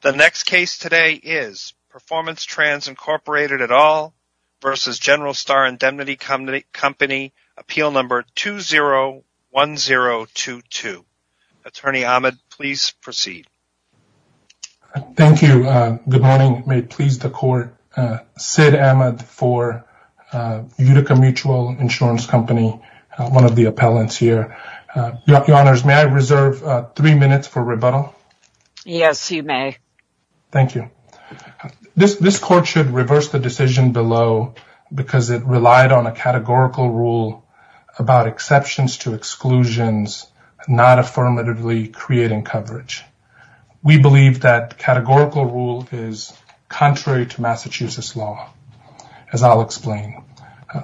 The next case today is Performance Trans., Inc. v. General Star Indemnity Company, Appeal No. 201022. Attorney Ahmed, please proceed. Thank you. Good morning. May it please the Court, Sid Ahmed for Utica Mutual Insurance Company, one of the appellants here. Your Honors, may I reserve three minutes for rebuttal? Yes, you may. Thank you. This Court should reverse the decision below because it relied on a categorical rule about exceptions to exclusions not affirmatively creating coverage. We believe that categorical rule is contrary to Massachusetts law, as I'll explain.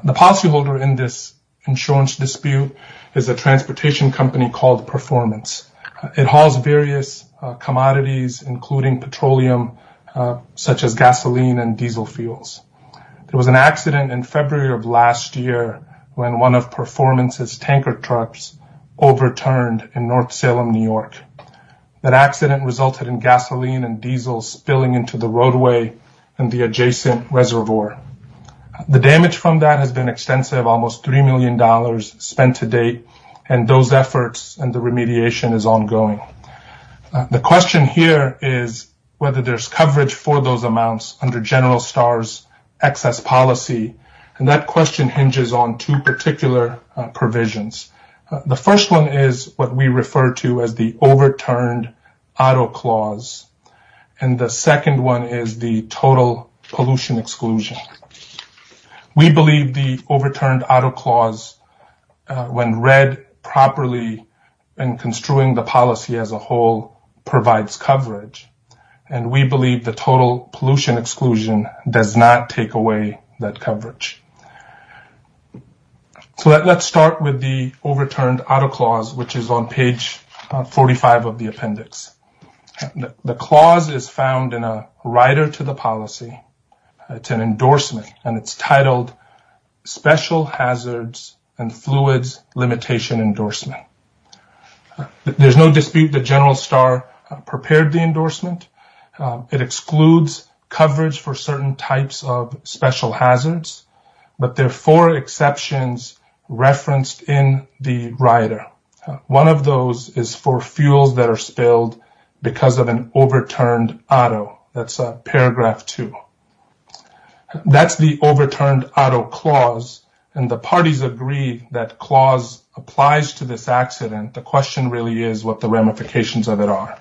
The policyholder in this insurance dispute is a transportation company called Performance. It hauls various commodities, including petroleum, such as gasoline and diesel fuels. There was an accident in February of last year when one of Performance's tanker trucks overturned in North Salem, New York. That accident resulted in gasoline and diesel spilling into the roadway and the adjacent reservoir. The damage from that has been ongoing. The question here is whether there's coverage for those amounts under General Star's excess policy, and that question hinges on two particular provisions. The first one is what we refer to as the overturned auto clause. The second one is the total pollution exclusion. We believe the overturned auto clause, when read properly and construing the policy as a whole, provides coverage, and we believe the total pollution exclusion does not take away that coverage. Let's start with the overturned auto clause, which is on page 45 of the appendix. The clause is found in a rider to the policy. It's an endorsement, and it's titled Special Hazards and Fluids Limitation Endorsement. There's no dispute that General Star prepared the endorsement. It excludes coverage for certain types of special hazards, but there are four exceptions referenced in the rider. One of those is for fuels that are spilled because of an overturned auto. That's paragraph two. That's the overturned auto clause, and the parties agree that clause applies to this accident. The question really is what the ramifications of it are.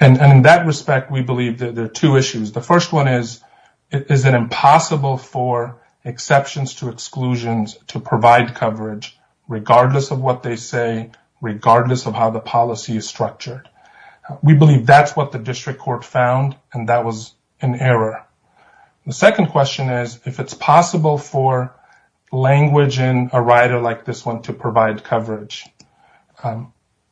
In that respect, we believe there are two issues. The first one is, is it impossible for exceptions to exclusions to provide coverage regardless of what they say, regardless of how the policy is structured? We believe that's what the district court found, and that was an error. The second question is, if it's possible for language in a rider like this one to provide coverage,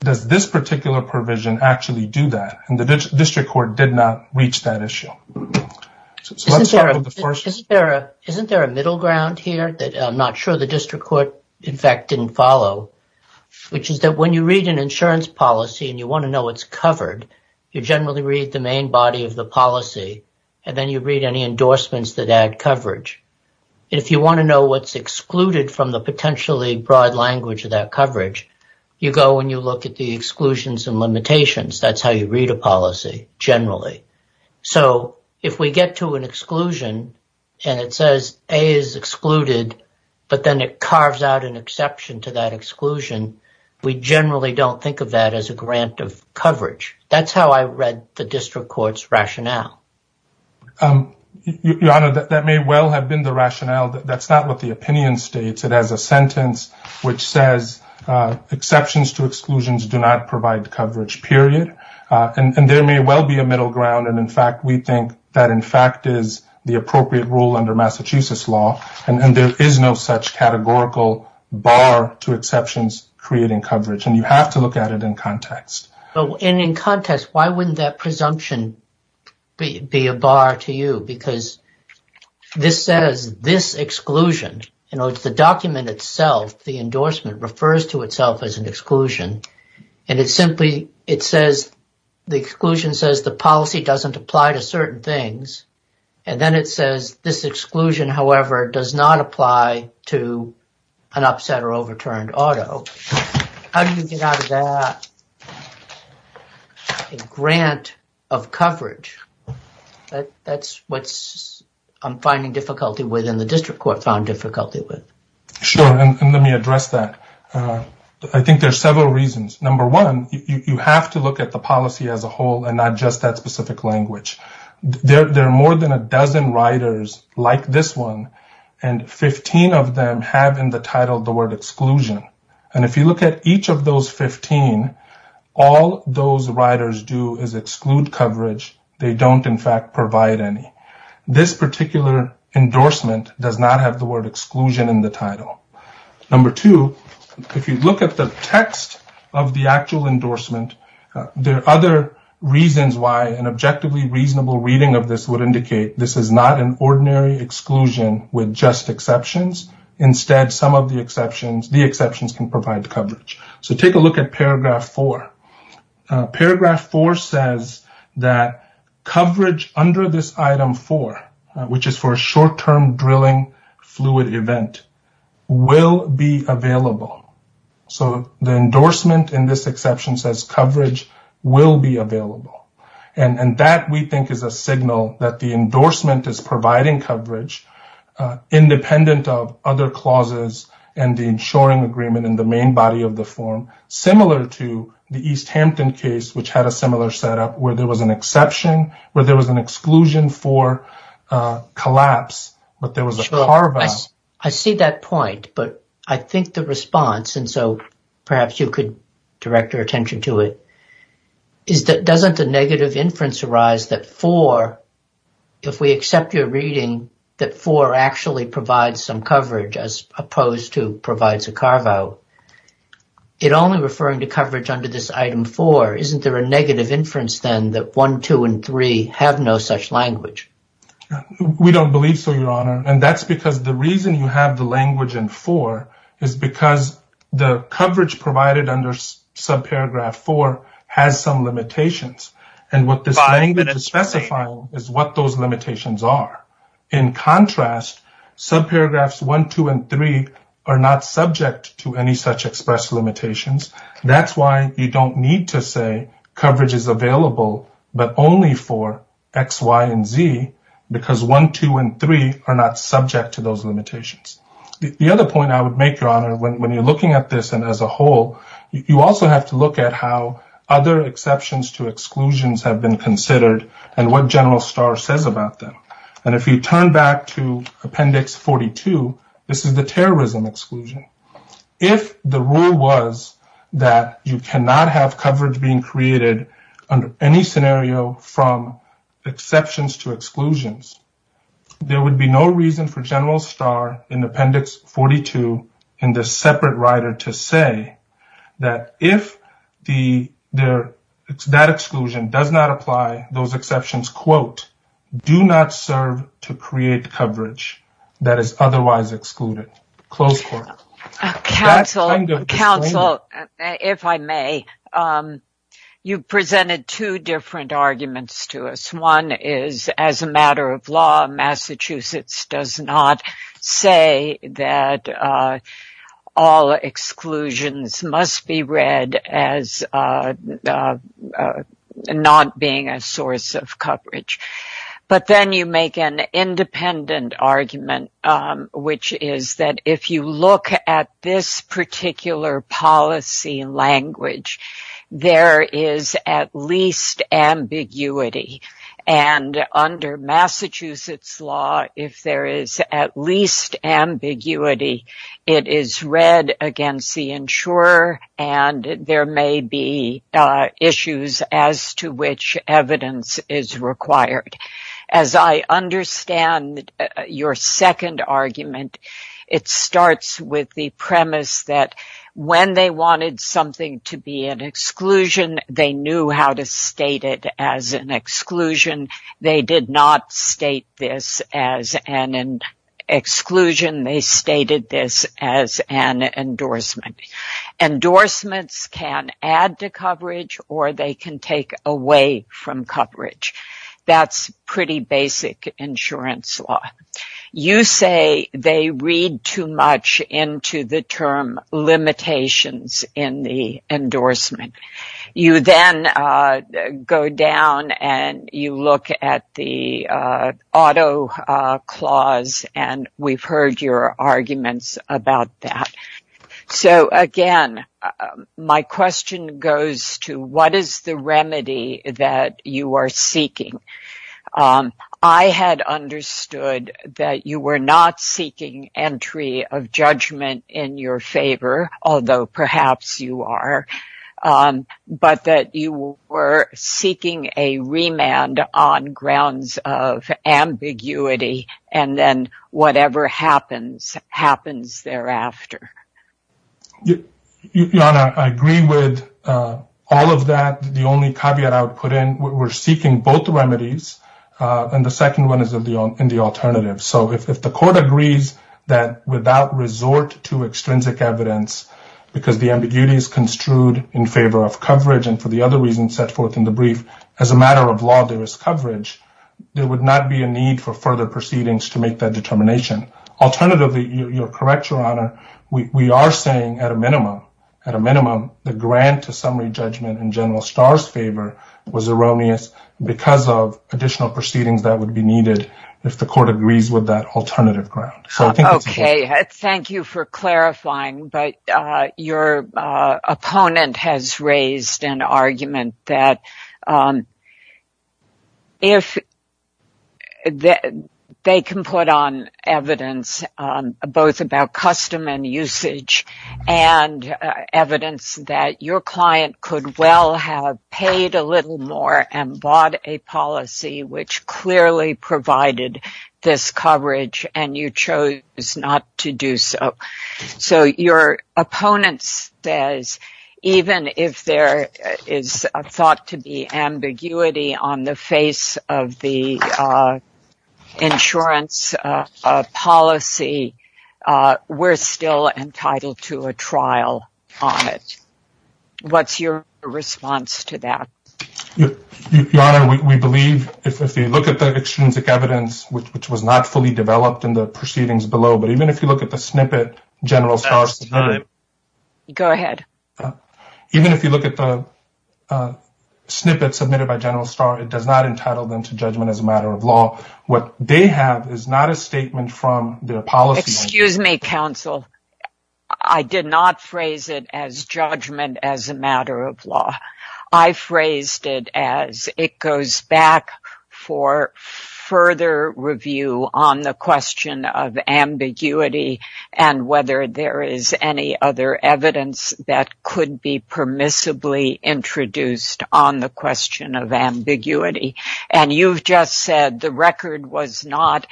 does this particular provision actually do that, and the district court did not reach that issue? Let's start with the first. Isn't there a middle ground here that I'm not sure the district court, in fact, didn't follow, which is that when you read an insurance policy and you want to know what's covered, you generally read the main body of the policy, and then you read any endorsements that add coverage. If you want to know what's excluded from the potentially broad language of that coverage, you go and you look at the exclusions and limitations. That's how you read a policy generally. If we get to an exclusion, and it says A is excluded, but then it carves out an exception to that exclusion, we generally don't think of that as a grant of coverage. That's how I read the district court's rationale. Your Honor, that may well have been the rationale. That's not what the opinion states. It has a sentence which says, exceptions to exclusions do not provide coverage, period. There may well be a middle ground, and in fact, we think that in fact is the appropriate rule under Massachusetts law, and there is no such categorical bar to exceptions creating coverage, and you have to look at it in context. In context, why wouldn't that presumption be a bar to you? Because this says this exclusion, the document itself, the endorsement, refers to itself as an exclusion, and the exclusion says the policy doesn't apply to or does not apply to an upset or overturned auto. How do you get out of that a grant of coverage? That's what I'm finding difficulty with and the district court found difficulty with. Sure, and let me address that. I think there are several reasons. Number one, you have to look at the policy as a whole and not just that specific language. There are more than a dozen riders like this one, and 15 of them have in the title the word exclusion, and if you look at each of those 15, all those riders do is exclude coverage. They don't in fact provide any. This particular endorsement does not have the word exclusion in the title. Number two, if you look at the text of the actual endorsement, there are other reasons why an objectively reasonable reading of this would indicate this is not an ordinary exclusion with just exceptions. Instead, some of the exceptions, the exceptions can provide coverage. So take a look at paragraph four. Paragraph four says that coverage under this item four, which is for a short-term drilling fluid event, will be available. So the endorsement in this exception says coverage will be available, and that we think is a signal that the endorsement is providing coverage independent of other clauses and the insuring agreement in the main body of the form, similar to the East Hampton case, which had a similar setup where there was an exception, where there was an exclusion for collapse, but there was a carve-out. I see that point, but I think the response, and so perhaps you could direct your attention to it, is that doesn't a negative inference arise that four, if we accept your reading, that four actually provides some coverage as opposed to provides a carve-out? It only referring to coverage under this item four, isn't there a negative inference then that one, two, and three have no such language? We don't believe so, Your Honor, and that's because the reason you have the language in four is because the coverage provided under subparagraph four has some limitations, and what this language is specifying is what those limitations are. In contrast, subparagraphs one, two, and three are not subject to any such express limitations. That's why you don't need to say coverage is available, but only for x, y, and z, because one, two, and three are not subject to those limitations. The other point I would make, Your Honor, when you're looking at this and as a whole, you also have to look at how other exceptions to exclusions have been considered and what General Starr says about them, and if you turn back to appendix 42, this is the terrorism exclusion. If the rule was that you cannot have coverage being created under any scenario from exceptions to exclusions, there would be no reason for General Starr in appendix 42 in this separate rider to say that if that exclusion does not apply, those exceptions quote, do not serve to create coverage that is otherwise excluded. Counsel, if I may, you presented two different arguments to us. One is as a matter of law, Massachusetts does not say that all exclusions must be read as not being a source of coverage, but then you make an independent argument, which is that if you look at this particular policy language, there is at least ambiguity, and under Massachusetts law, if there is at least ambiguity, it is read against the insurer and there may be issues as to which evidence is required. As I understand your second argument, it starts with the premise that when they wanted something to be an exclusion, they knew how to state it as an exclusion. They did not state this as an exclusion. They stated this as an endorsement. Endorsements can add to coverage or they can take away from coverage. That's pretty basic insurance law. You say they read too much into the term limitations in the endorsement. You then go down and you look at the auto clause and we've heard your arguments about that. So again, my question goes to what is the remedy that you are seeking? I had understood that you were not seeking entry of judgment in your favor, although perhaps you are, but that you were seeking a remand on grounds of ambiguity and then whatever happens happens thereafter. I agree with all of that. The only caveat I would put in, we're seeking both alternatives. If the court agrees that without resort to extrinsic evidence because the ambiguity is construed in favor of coverage and for the other reasons set forth in the brief, as a matter of law, there is coverage, there would not be a need for further proceedings to make that determination. Alternatively, you're correct, Your Honor. We are saying at a minimum, the grant to summary judgment in General Starr's favor was erroneous because of additional proceedings that would be needed if the court agrees with that alternative ground. Thank you for clarifying, but your opponent has raised an argument that if they can put on evidence both about custom and usage and evidence that your client could well have paid a little more and bought a policy which clearly provided this coverage and you chose not to do so. So your opponent says even if there is a thought to be ambiguity on the face of the insurance policy, we're still entitled to a trial on it. What's your response to that? Your Honor, we believe if you look at the extrinsic evidence, which was not fully developed in the proceedings below, but even if you look at the snippet General Starr submitted, even if you look at the snippet submitted by General Starr, it does not entitle them to a trial. What they have is not a statement from their policy. Excuse me, counsel. I did not phrase it as judgment as a matter of law. I phrased it as it goes back for further review on the question of ambiguity and whether there is any other evidence that could be permissibly introduced on the question of ambiguity. And you've just said the record was not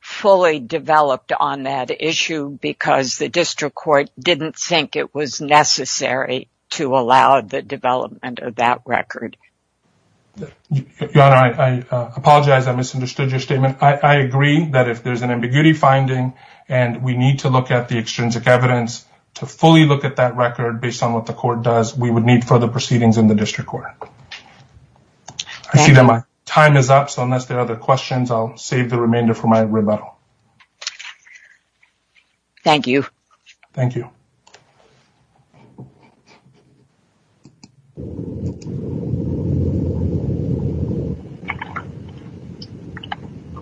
fully developed on that issue because the district court didn't think it was necessary to allow the development of that record. Your Honor, I apologize. I misunderstood your statement. I agree that if there's an ambiguity finding and we need to look at the extrinsic evidence to fully look at that record based on what the court does, we would need further questions. I'll save the remainder for my rebuttal. Thank you. Thank you.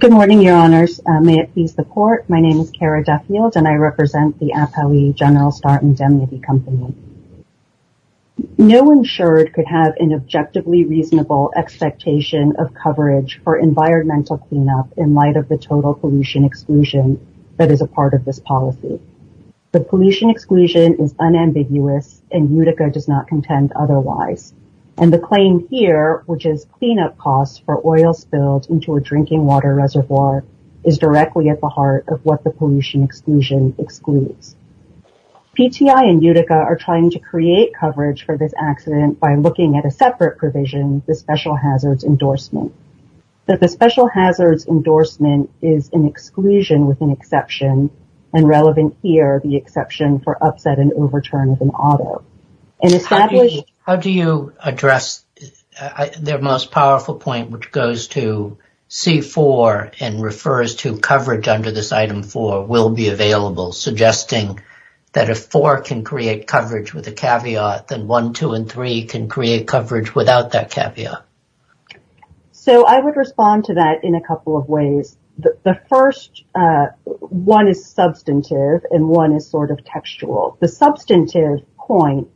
Good morning, Your Honors. May it please the court, my name is Kara Duffield and I represent the APOE General Starr Indemnity Company. No insured could have an objectively reasonable expectation of coverage for environmental cleanup in light of the total pollution exclusion that is a part of this policy. The pollution exclusion is unambiguous and Utica does not contend otherwise. And the claim here, which is cleanup costs for oil spilled into a drinking water reservoir, is directly at the heart of what the pollution exclusion excludes. PTI and Utica are trying to create coverage for this accident by looking at a separate provision, the special hazards endorsement. That the special hazards endorsement is an exclusion with an exception and relevant here the exception for upset and overturn of an auto. How do you address their most powerful point which goes to C4 and refers to coverage under this item 4 will be with a caveat than 1, 2, and 3 can create coverage without that caveat. So I would respond to that in a couple of ways. The first one is substantive and one is sort of textual. The substantive point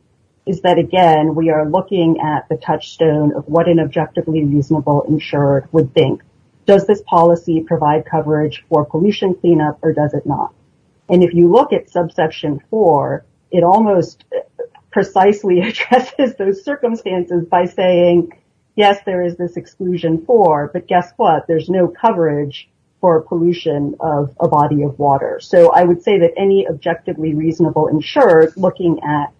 is that again we are looking at the touchstone of what an objectively reasonable insured would think. Does this policy provide coverage for pollution cleanup or does not? And if you look at subsection 4 it almost precisely addresses those circumstances by saying yes there is this exclusion for but guess what there's no coverage for pollution of a body of water. So I would say that any objectively reasonable insured looking at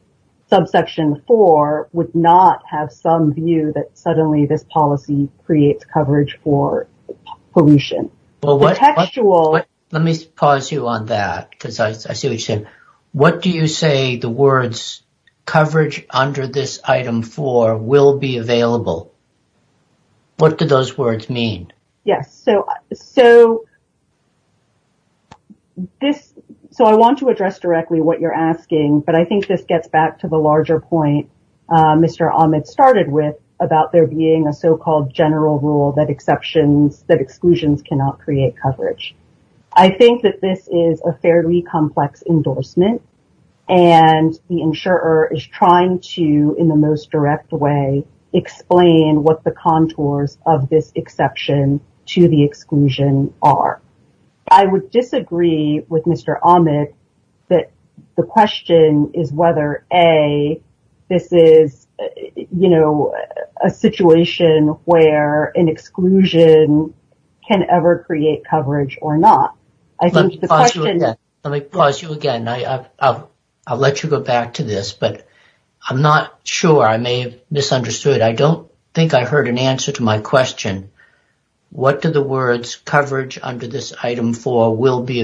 subsection 4 would not have some view that suddenly this policy creates coverage for pollution. Well what let me pause you on that because I see what you're saying. What do you say the words coverage under this item 4 will be available? What do those words mean? Yes so this so I want to address directly what you're asking but I think this gets back to the larger point Mr. Ahmed started with about there being a so-called general rule that exceptions that exclusions cannot create coverage. I think that this is a fairly complex endorsement and the insurer is trying to in the most direct way explain what the contours of this exception to the exclusion are. I would disagree with Mr. Ahmed that the question is whether a this is you know a situation where an exclusion can ever create coverage or not. Let me pause you again. I'll let you go back to this but I'm not sure I may have misunderstood. I don't think I heard an answer to my question. What do the words coverage under this item 4 will be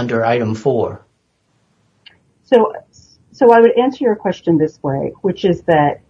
under item 4? So I would answer your question this way which is that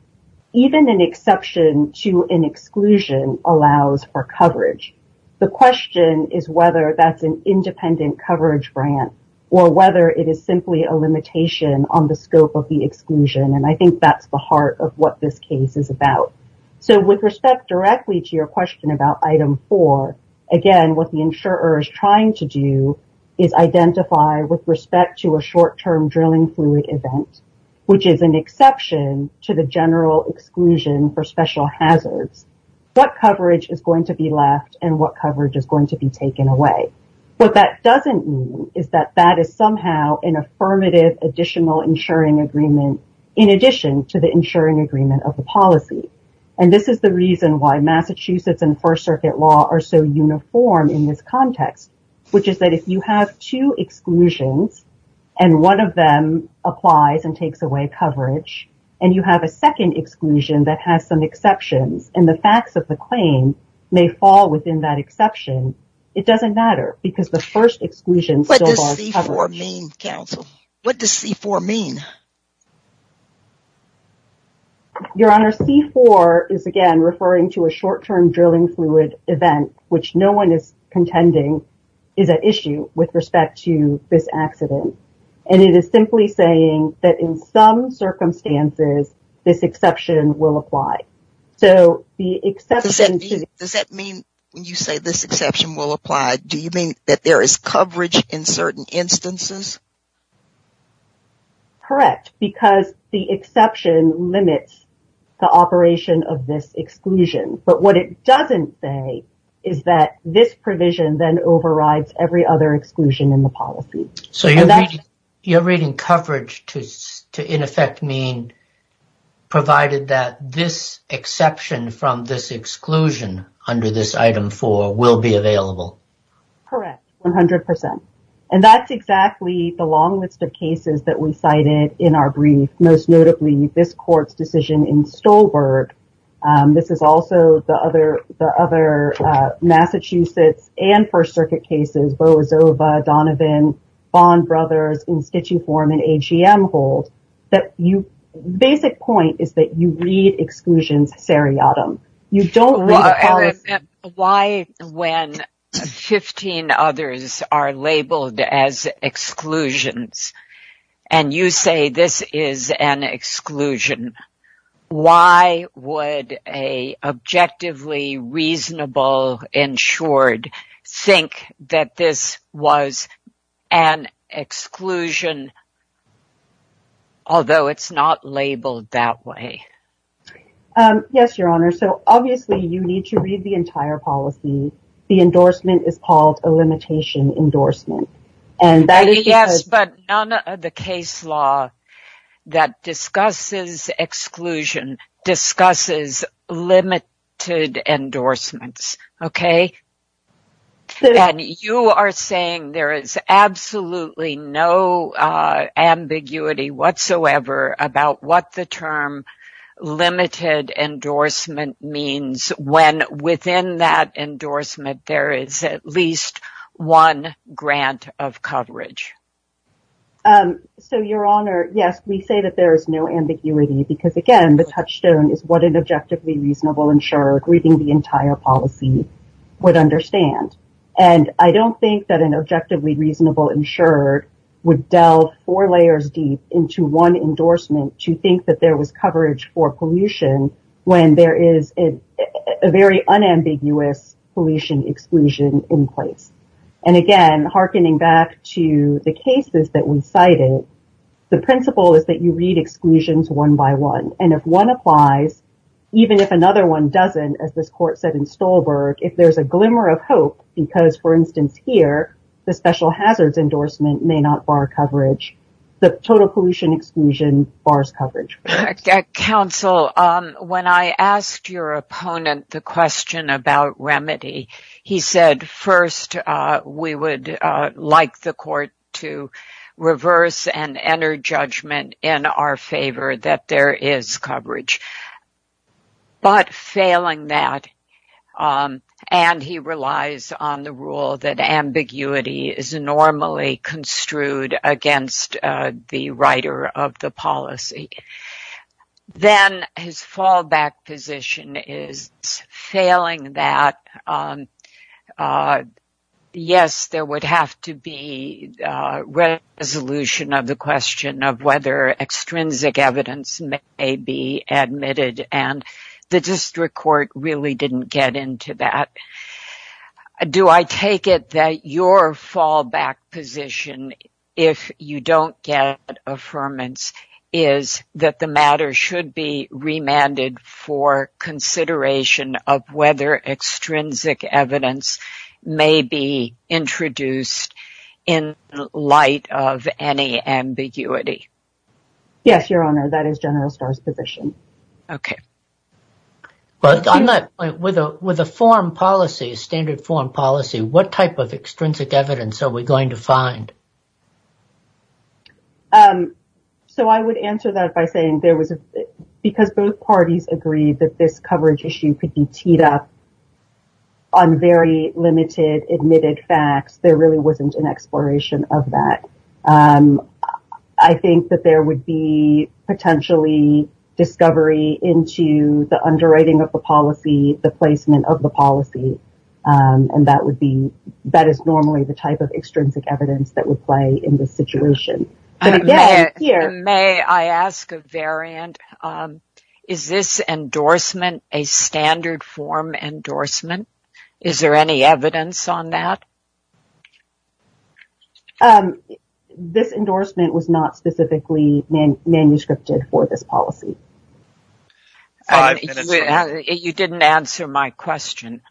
even an exception to an exclusion allows for coverage. The question is whether that's an independent coverage grant or whether it is simply a limitation on the scope of the exclusion and I think that's the heart of what this case is about. So with respect directly to your question about item 4 again what the insurer is trying to do is identify with respect to a short-term drilling fluid event which is an exception to the general exclusion for special hazards what coverage is going to be left and what coverage is going to be taken away. What that doesn't mean is that that is somehow an affirmative additional insuring agreement in addition to the insuring agreement of the policy and this is the reason why Massachusetts and first circuit law are so uniform in this context which is that if you have two exclusions and one of them applies and takes away coverage and you have a second exclusion that has some exceptions and the facts of the claim may fall within that exception it doesn't matter because the first exclusion still covers. What does C4 mean counsel? What does C4 mean? Your Honor, C4 is again referring to a short-term drilling fluid event which no one is contending is an issue with respect to this accident and it is simply saying that in some circumstances this exception will apply. So the exception... Does that mean when you say this exception will apply do you mean that there is coverage in certain instances? Correct, because the exception limits the operation of this exclusion but what it doesn't say is that this provision then overrides every other exclusion in the policy. So you're reading coverage to in effect mean provided that this exception from this exclusion under this item four will be available? Correct, 100 percent and that's exactly the long list of cases that we cited in our brief most notably this court's decision in Stolberg. This is also the other Massachusetts and First Circuit cases, Boazova, Donovan, Bond brothers in sketchy form and AGM hold that you basic point is that you read exclusions seriatim. You don't read... Why when 15 others are labeled as exclusions and you say this is an exclusion why would a objectively reasonable insured think that this was an exclusion although it's not labeled that way? Yes, your honor. So obviously you need to read the entire policy. The endorsement is called a limitation endorsement and that is... Yes, but none of the case law that discusses exclusion discusses limited endorsements, okay? And you are saying there is absolutely no ambiguity whatsoever about what the term limited endorsement means when within that endorsement there is at least one grant of coverage? So your honor, yes we say that there is no ambiguity because again the touchstone is what an objectively reasonable insured reading the entire policy would understand and I don't think that an objectively reasonable insured would delve four layers deep into one endorsement to think that there was coverage for pollution when there is a very unambiguous pollution exclusion in place and again hearkening back to the cases that we cited the principle is that you read exclusions one by one and if one applies even if another one doesn't as this court said in Stolberg if there's a glimmer of hope because for instance here the special hazards endorsement may not bar coverage the total pollution exclusion bars coverage. Counsel, when I asked your opponent the question about remedy he said first we would like the court to reverse and enter judgment in our favor that there is coverage but failing that and he relies on the rule that ambiguity is normally construed against the writer of the policy then his fallback position is failing that yes there would have to be a resolution of the question of whether extrinsic evidence may be admitted and the district court really didn't get into that. Do I take it that your fallback position if you don't get affirmance is that the matter should be remanded for consideration of whether extrinsic evidence may be introduced in light of any ambiguity? Yes your honor that is General Starr's position. Okay but on that point with a with a foreign policy standard foreign policy what type of extrinsic evidence are we going to find? So I would answer that by saying there was because both parties agreed that this coverage issue could be teed up on very limited admitted facts there really wasn't an exploration of that. I think that there would be potentially discovery into the underwriting of the policy the placement of the policy and that would be that is normally the type of extrinsic evidence that would play in this Is this endorsement a standard form endorsement? Is there any evidence on that? This endorsement was not specifically manuscripted for this policy. You didn't answer my question.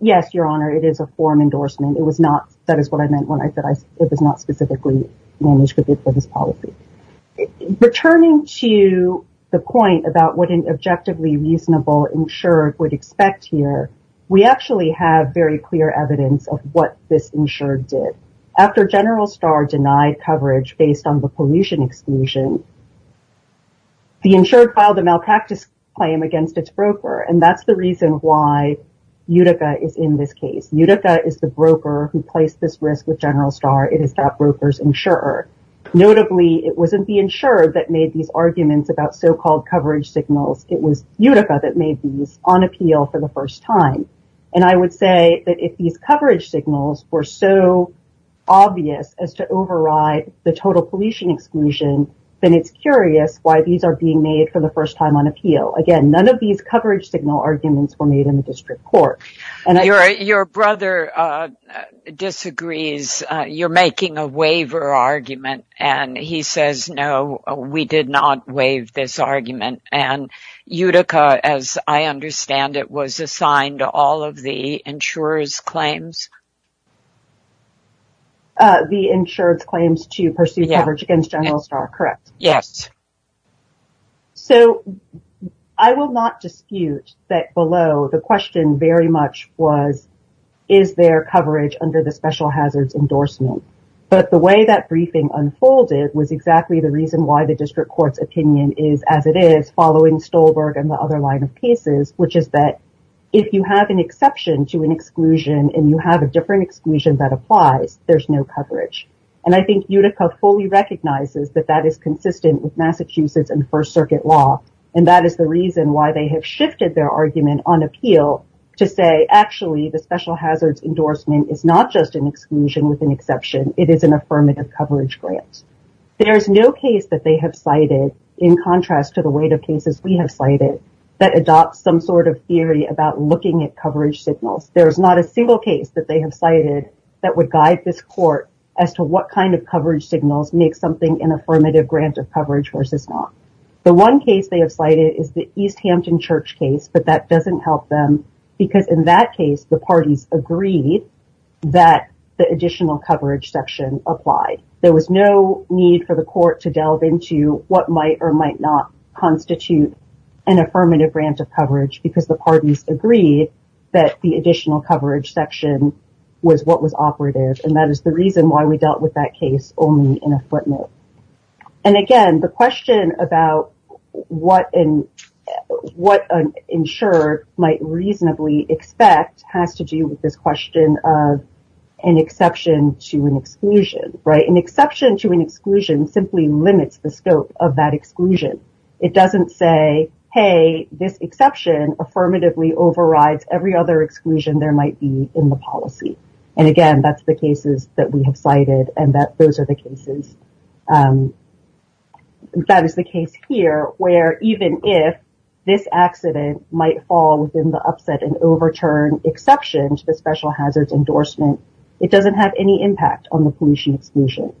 Yes your honor it is a form endorsement it was not that is what I meant when I said it was not specifically manuscripted for this policy. Returning to the point about what an objectively reasonable insured would expect here we actually have very clear evidence of what this insured did. After General Starr denied coverage based on the pollution exclusion the insured filed a malpractice claim against its broker and that's the reason why Utica is in this case. Utica is the broker who placed this wasn't the insured that made these arguments about so-called coverage signals it was Utica that made these on appeal for the first time and I would say that if these coverage signals were so obvious as to override the total pollution exclusion then it's curious why these are being made for the first time on appeal. Again none of these coverage signal arguments were made in the district court. Your brother disagrees you're making a waiver argument and he says no we did not waive this argument and Utica as I understand it was assigned to all of the insurers claims. The insured's claims to pursue coverage against General Starr correct? Yes. So I will not dispute that below the question very much was is there coverage under the special unfolded was exactly the reason why the district court's opinion is as it is following Stolberg and the other line of cases which is that if you have an exception to an exclusion and you have a different exclusion that applies there's no coverage and I think Utica fully recognizes that that is consistent with Massachusetts and first circuit law and that is the reason why they have shifted their argument on appeal to say actually the special hazards endorsement is not an exclusion with an exception it is an affirmative coverage grant. There's no case that they have cited in contrast to the weight of cases we have cited that adopts some sort of theory about looking at coverage signals. There's not a single case that they have cited that would guide this court as to what kind of coverage signals make something an affirmative grant of coverage versus not. The one case they have cited is the East Hampton Church case but that doesn't help them because in that case the parties agreed that the additional coverage section applied. There was no need for the court to delve into what might or might not constitute an affirmative grant of coverage because the parties agreed that the additional coverage section was what was operative and that is the reason why we dealt with that case only in a footnote. Again the question about what an insurer might reasonably expect has to do with this question of an exception to an exclusion. An exception to an exclusion simply limits the scope of that exclusion. It doesn't say hey this exception affirmatively overrides every other exclusion there might be in the policy and again that's the cases that we have cited and that those are the cases. That is the case here where even if this accident might fall within the upset and overturn exception to the special hazards endorsement it doesn't have any impact on the pollution exclusion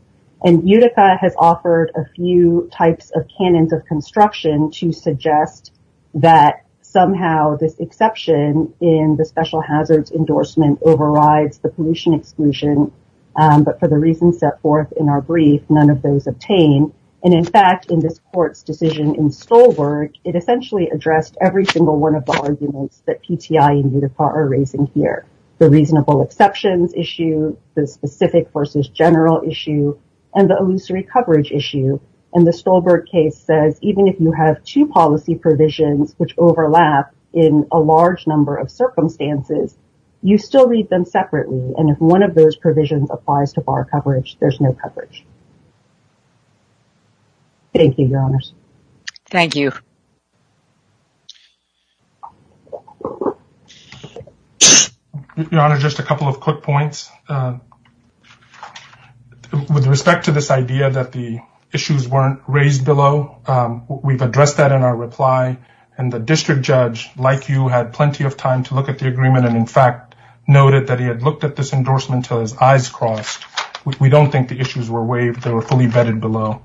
and UTIFA has offered a few types of canons of construction to suggest that somehow this exception in the special hazards endorsement overrides the pollution exclusion but for the reasons set forth in our brief none of those obtain and in fact in this court's decision in Stolberg it essentially addressed every single one of the arguments that PTI and UTIFA are raising here. The reasonable exceptions issue the specific versus general issue and the illusory coverage issue and the Stolberg case says even if you have two policy provisions which overlap in a large number of circumstances you still need them separately and if one of those provisions applies to bar coverage there's no coverage. Thank you your honors. Thank you. Your honor just a couple of quick points. With respect to this idea that the issues weren't raised below we've addressed that in our reply and the district judge like you had plenty of time to look at the agreement and in fact noted that he had looked at this endorsement till his eyes crossed. We don't think the issues were waived they were fully vetted below.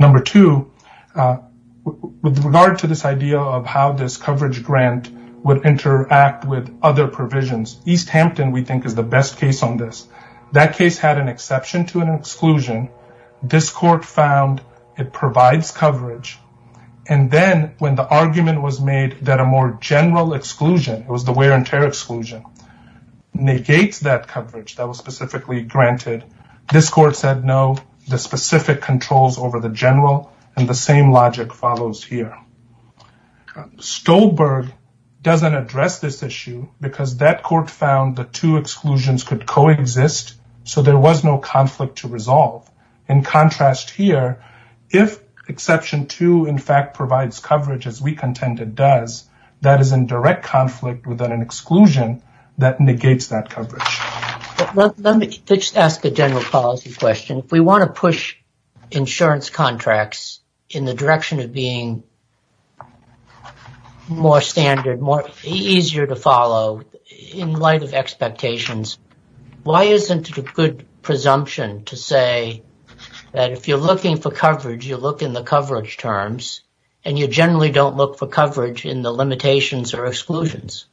Number two with regard to this idea of how this coverage grant would interact with other provisions East Hampton we think is the best case on this. That case had an exception to an exclusion this court found it provides coverage and then when the argument was made that a more general exclusion it was the wear and tear exclusion negates that coverage that was specifically granted this court said no the specific controls over the general and the same logic follows here. Stolberg doesn't address this issue because that court found the two exclusions could coexist so there was no conflict to resolve. In contrast here if exception two in fact provides coverage as we contend it does that is in direct conflict with an exclusion that negates that coverage. Let me just ask a general policy question if we want to push insurance contracts in the direction of being more standard more easier to follow in light of expectations why isn't it a good presumption to say that if you're looking for coverage you look in the coverage terms and you generally don't look for coverage in the limitations or exclusions?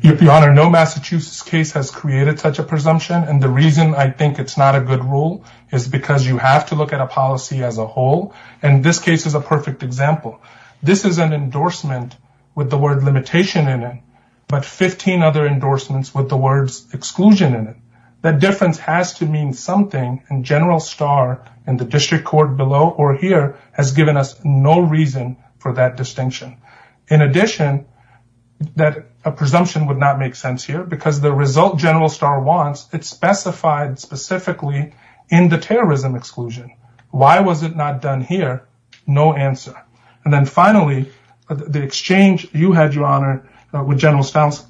Your Honor no Massachusetts case has created such a presumption and the reason I think it's not a good rule is because you have to look at a policy as a whole and this case is a perfect example. This is an endorsement with the word limitation in it but 15 other endorsements with the words exclusion in it. That difference has to mean something and General Starr in the district court below or here has given us no reason for that distinction. In addition that a presumption would not make sense here because the result General Starr wants it's specified specifically in the terrorism exclusion. Why was it not done here? No answer. And then finally the exchange you had Your Honor with General Starr's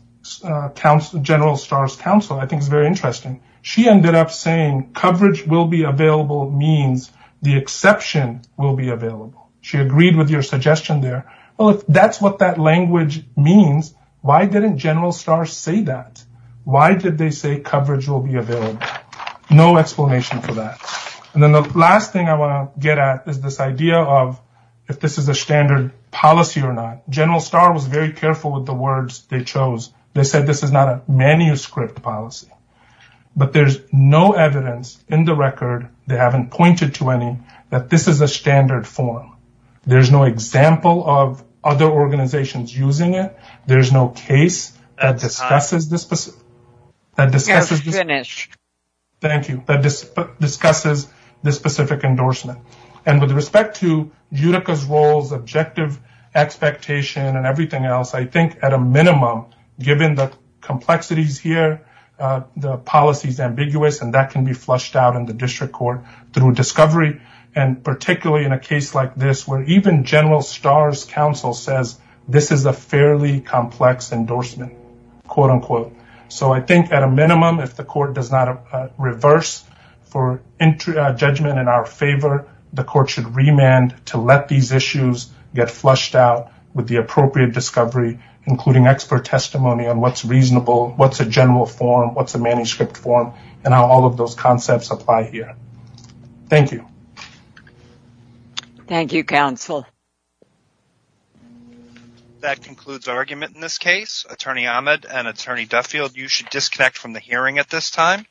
counsel I think is very interesting. She ended up saying coverage will be available means the exception will be available. She agreed with your suggestion there. Well if that's what that language means why didn't General Starr say that? Why did they say coverage will be available? No explanation for that. And then the last thing I want to get at is this idea of if this is a standard policy or not. General Starr was very careful with the words they chose. They said this is not a manuscript policy but there's no evidence in the record they haven't pointed to any that this is a standard form. There's no example of other organizations using it. There's no case that discusses this specific endorsement. And with respect to Utica's roles objective expectation and everything else I think at a minimum given the complexities here the policy is ambiguous and that can be flushed out in the district court through discovery. And particularly in a case like this where even General Starr's counsel says this is a fairly complex endorsement. So I think at a minimum if the court should remand to let these issues get flushed out with the appropriate discovery including expert testimony on what's reasonable, what's a general form, what's a manuscript form and how all of those concepts apply here. Thank you. Thank you counsel. That concludes argument in this case. Attorney Ahmed and Attorney Duffield you should disconnect from the hearing at this time.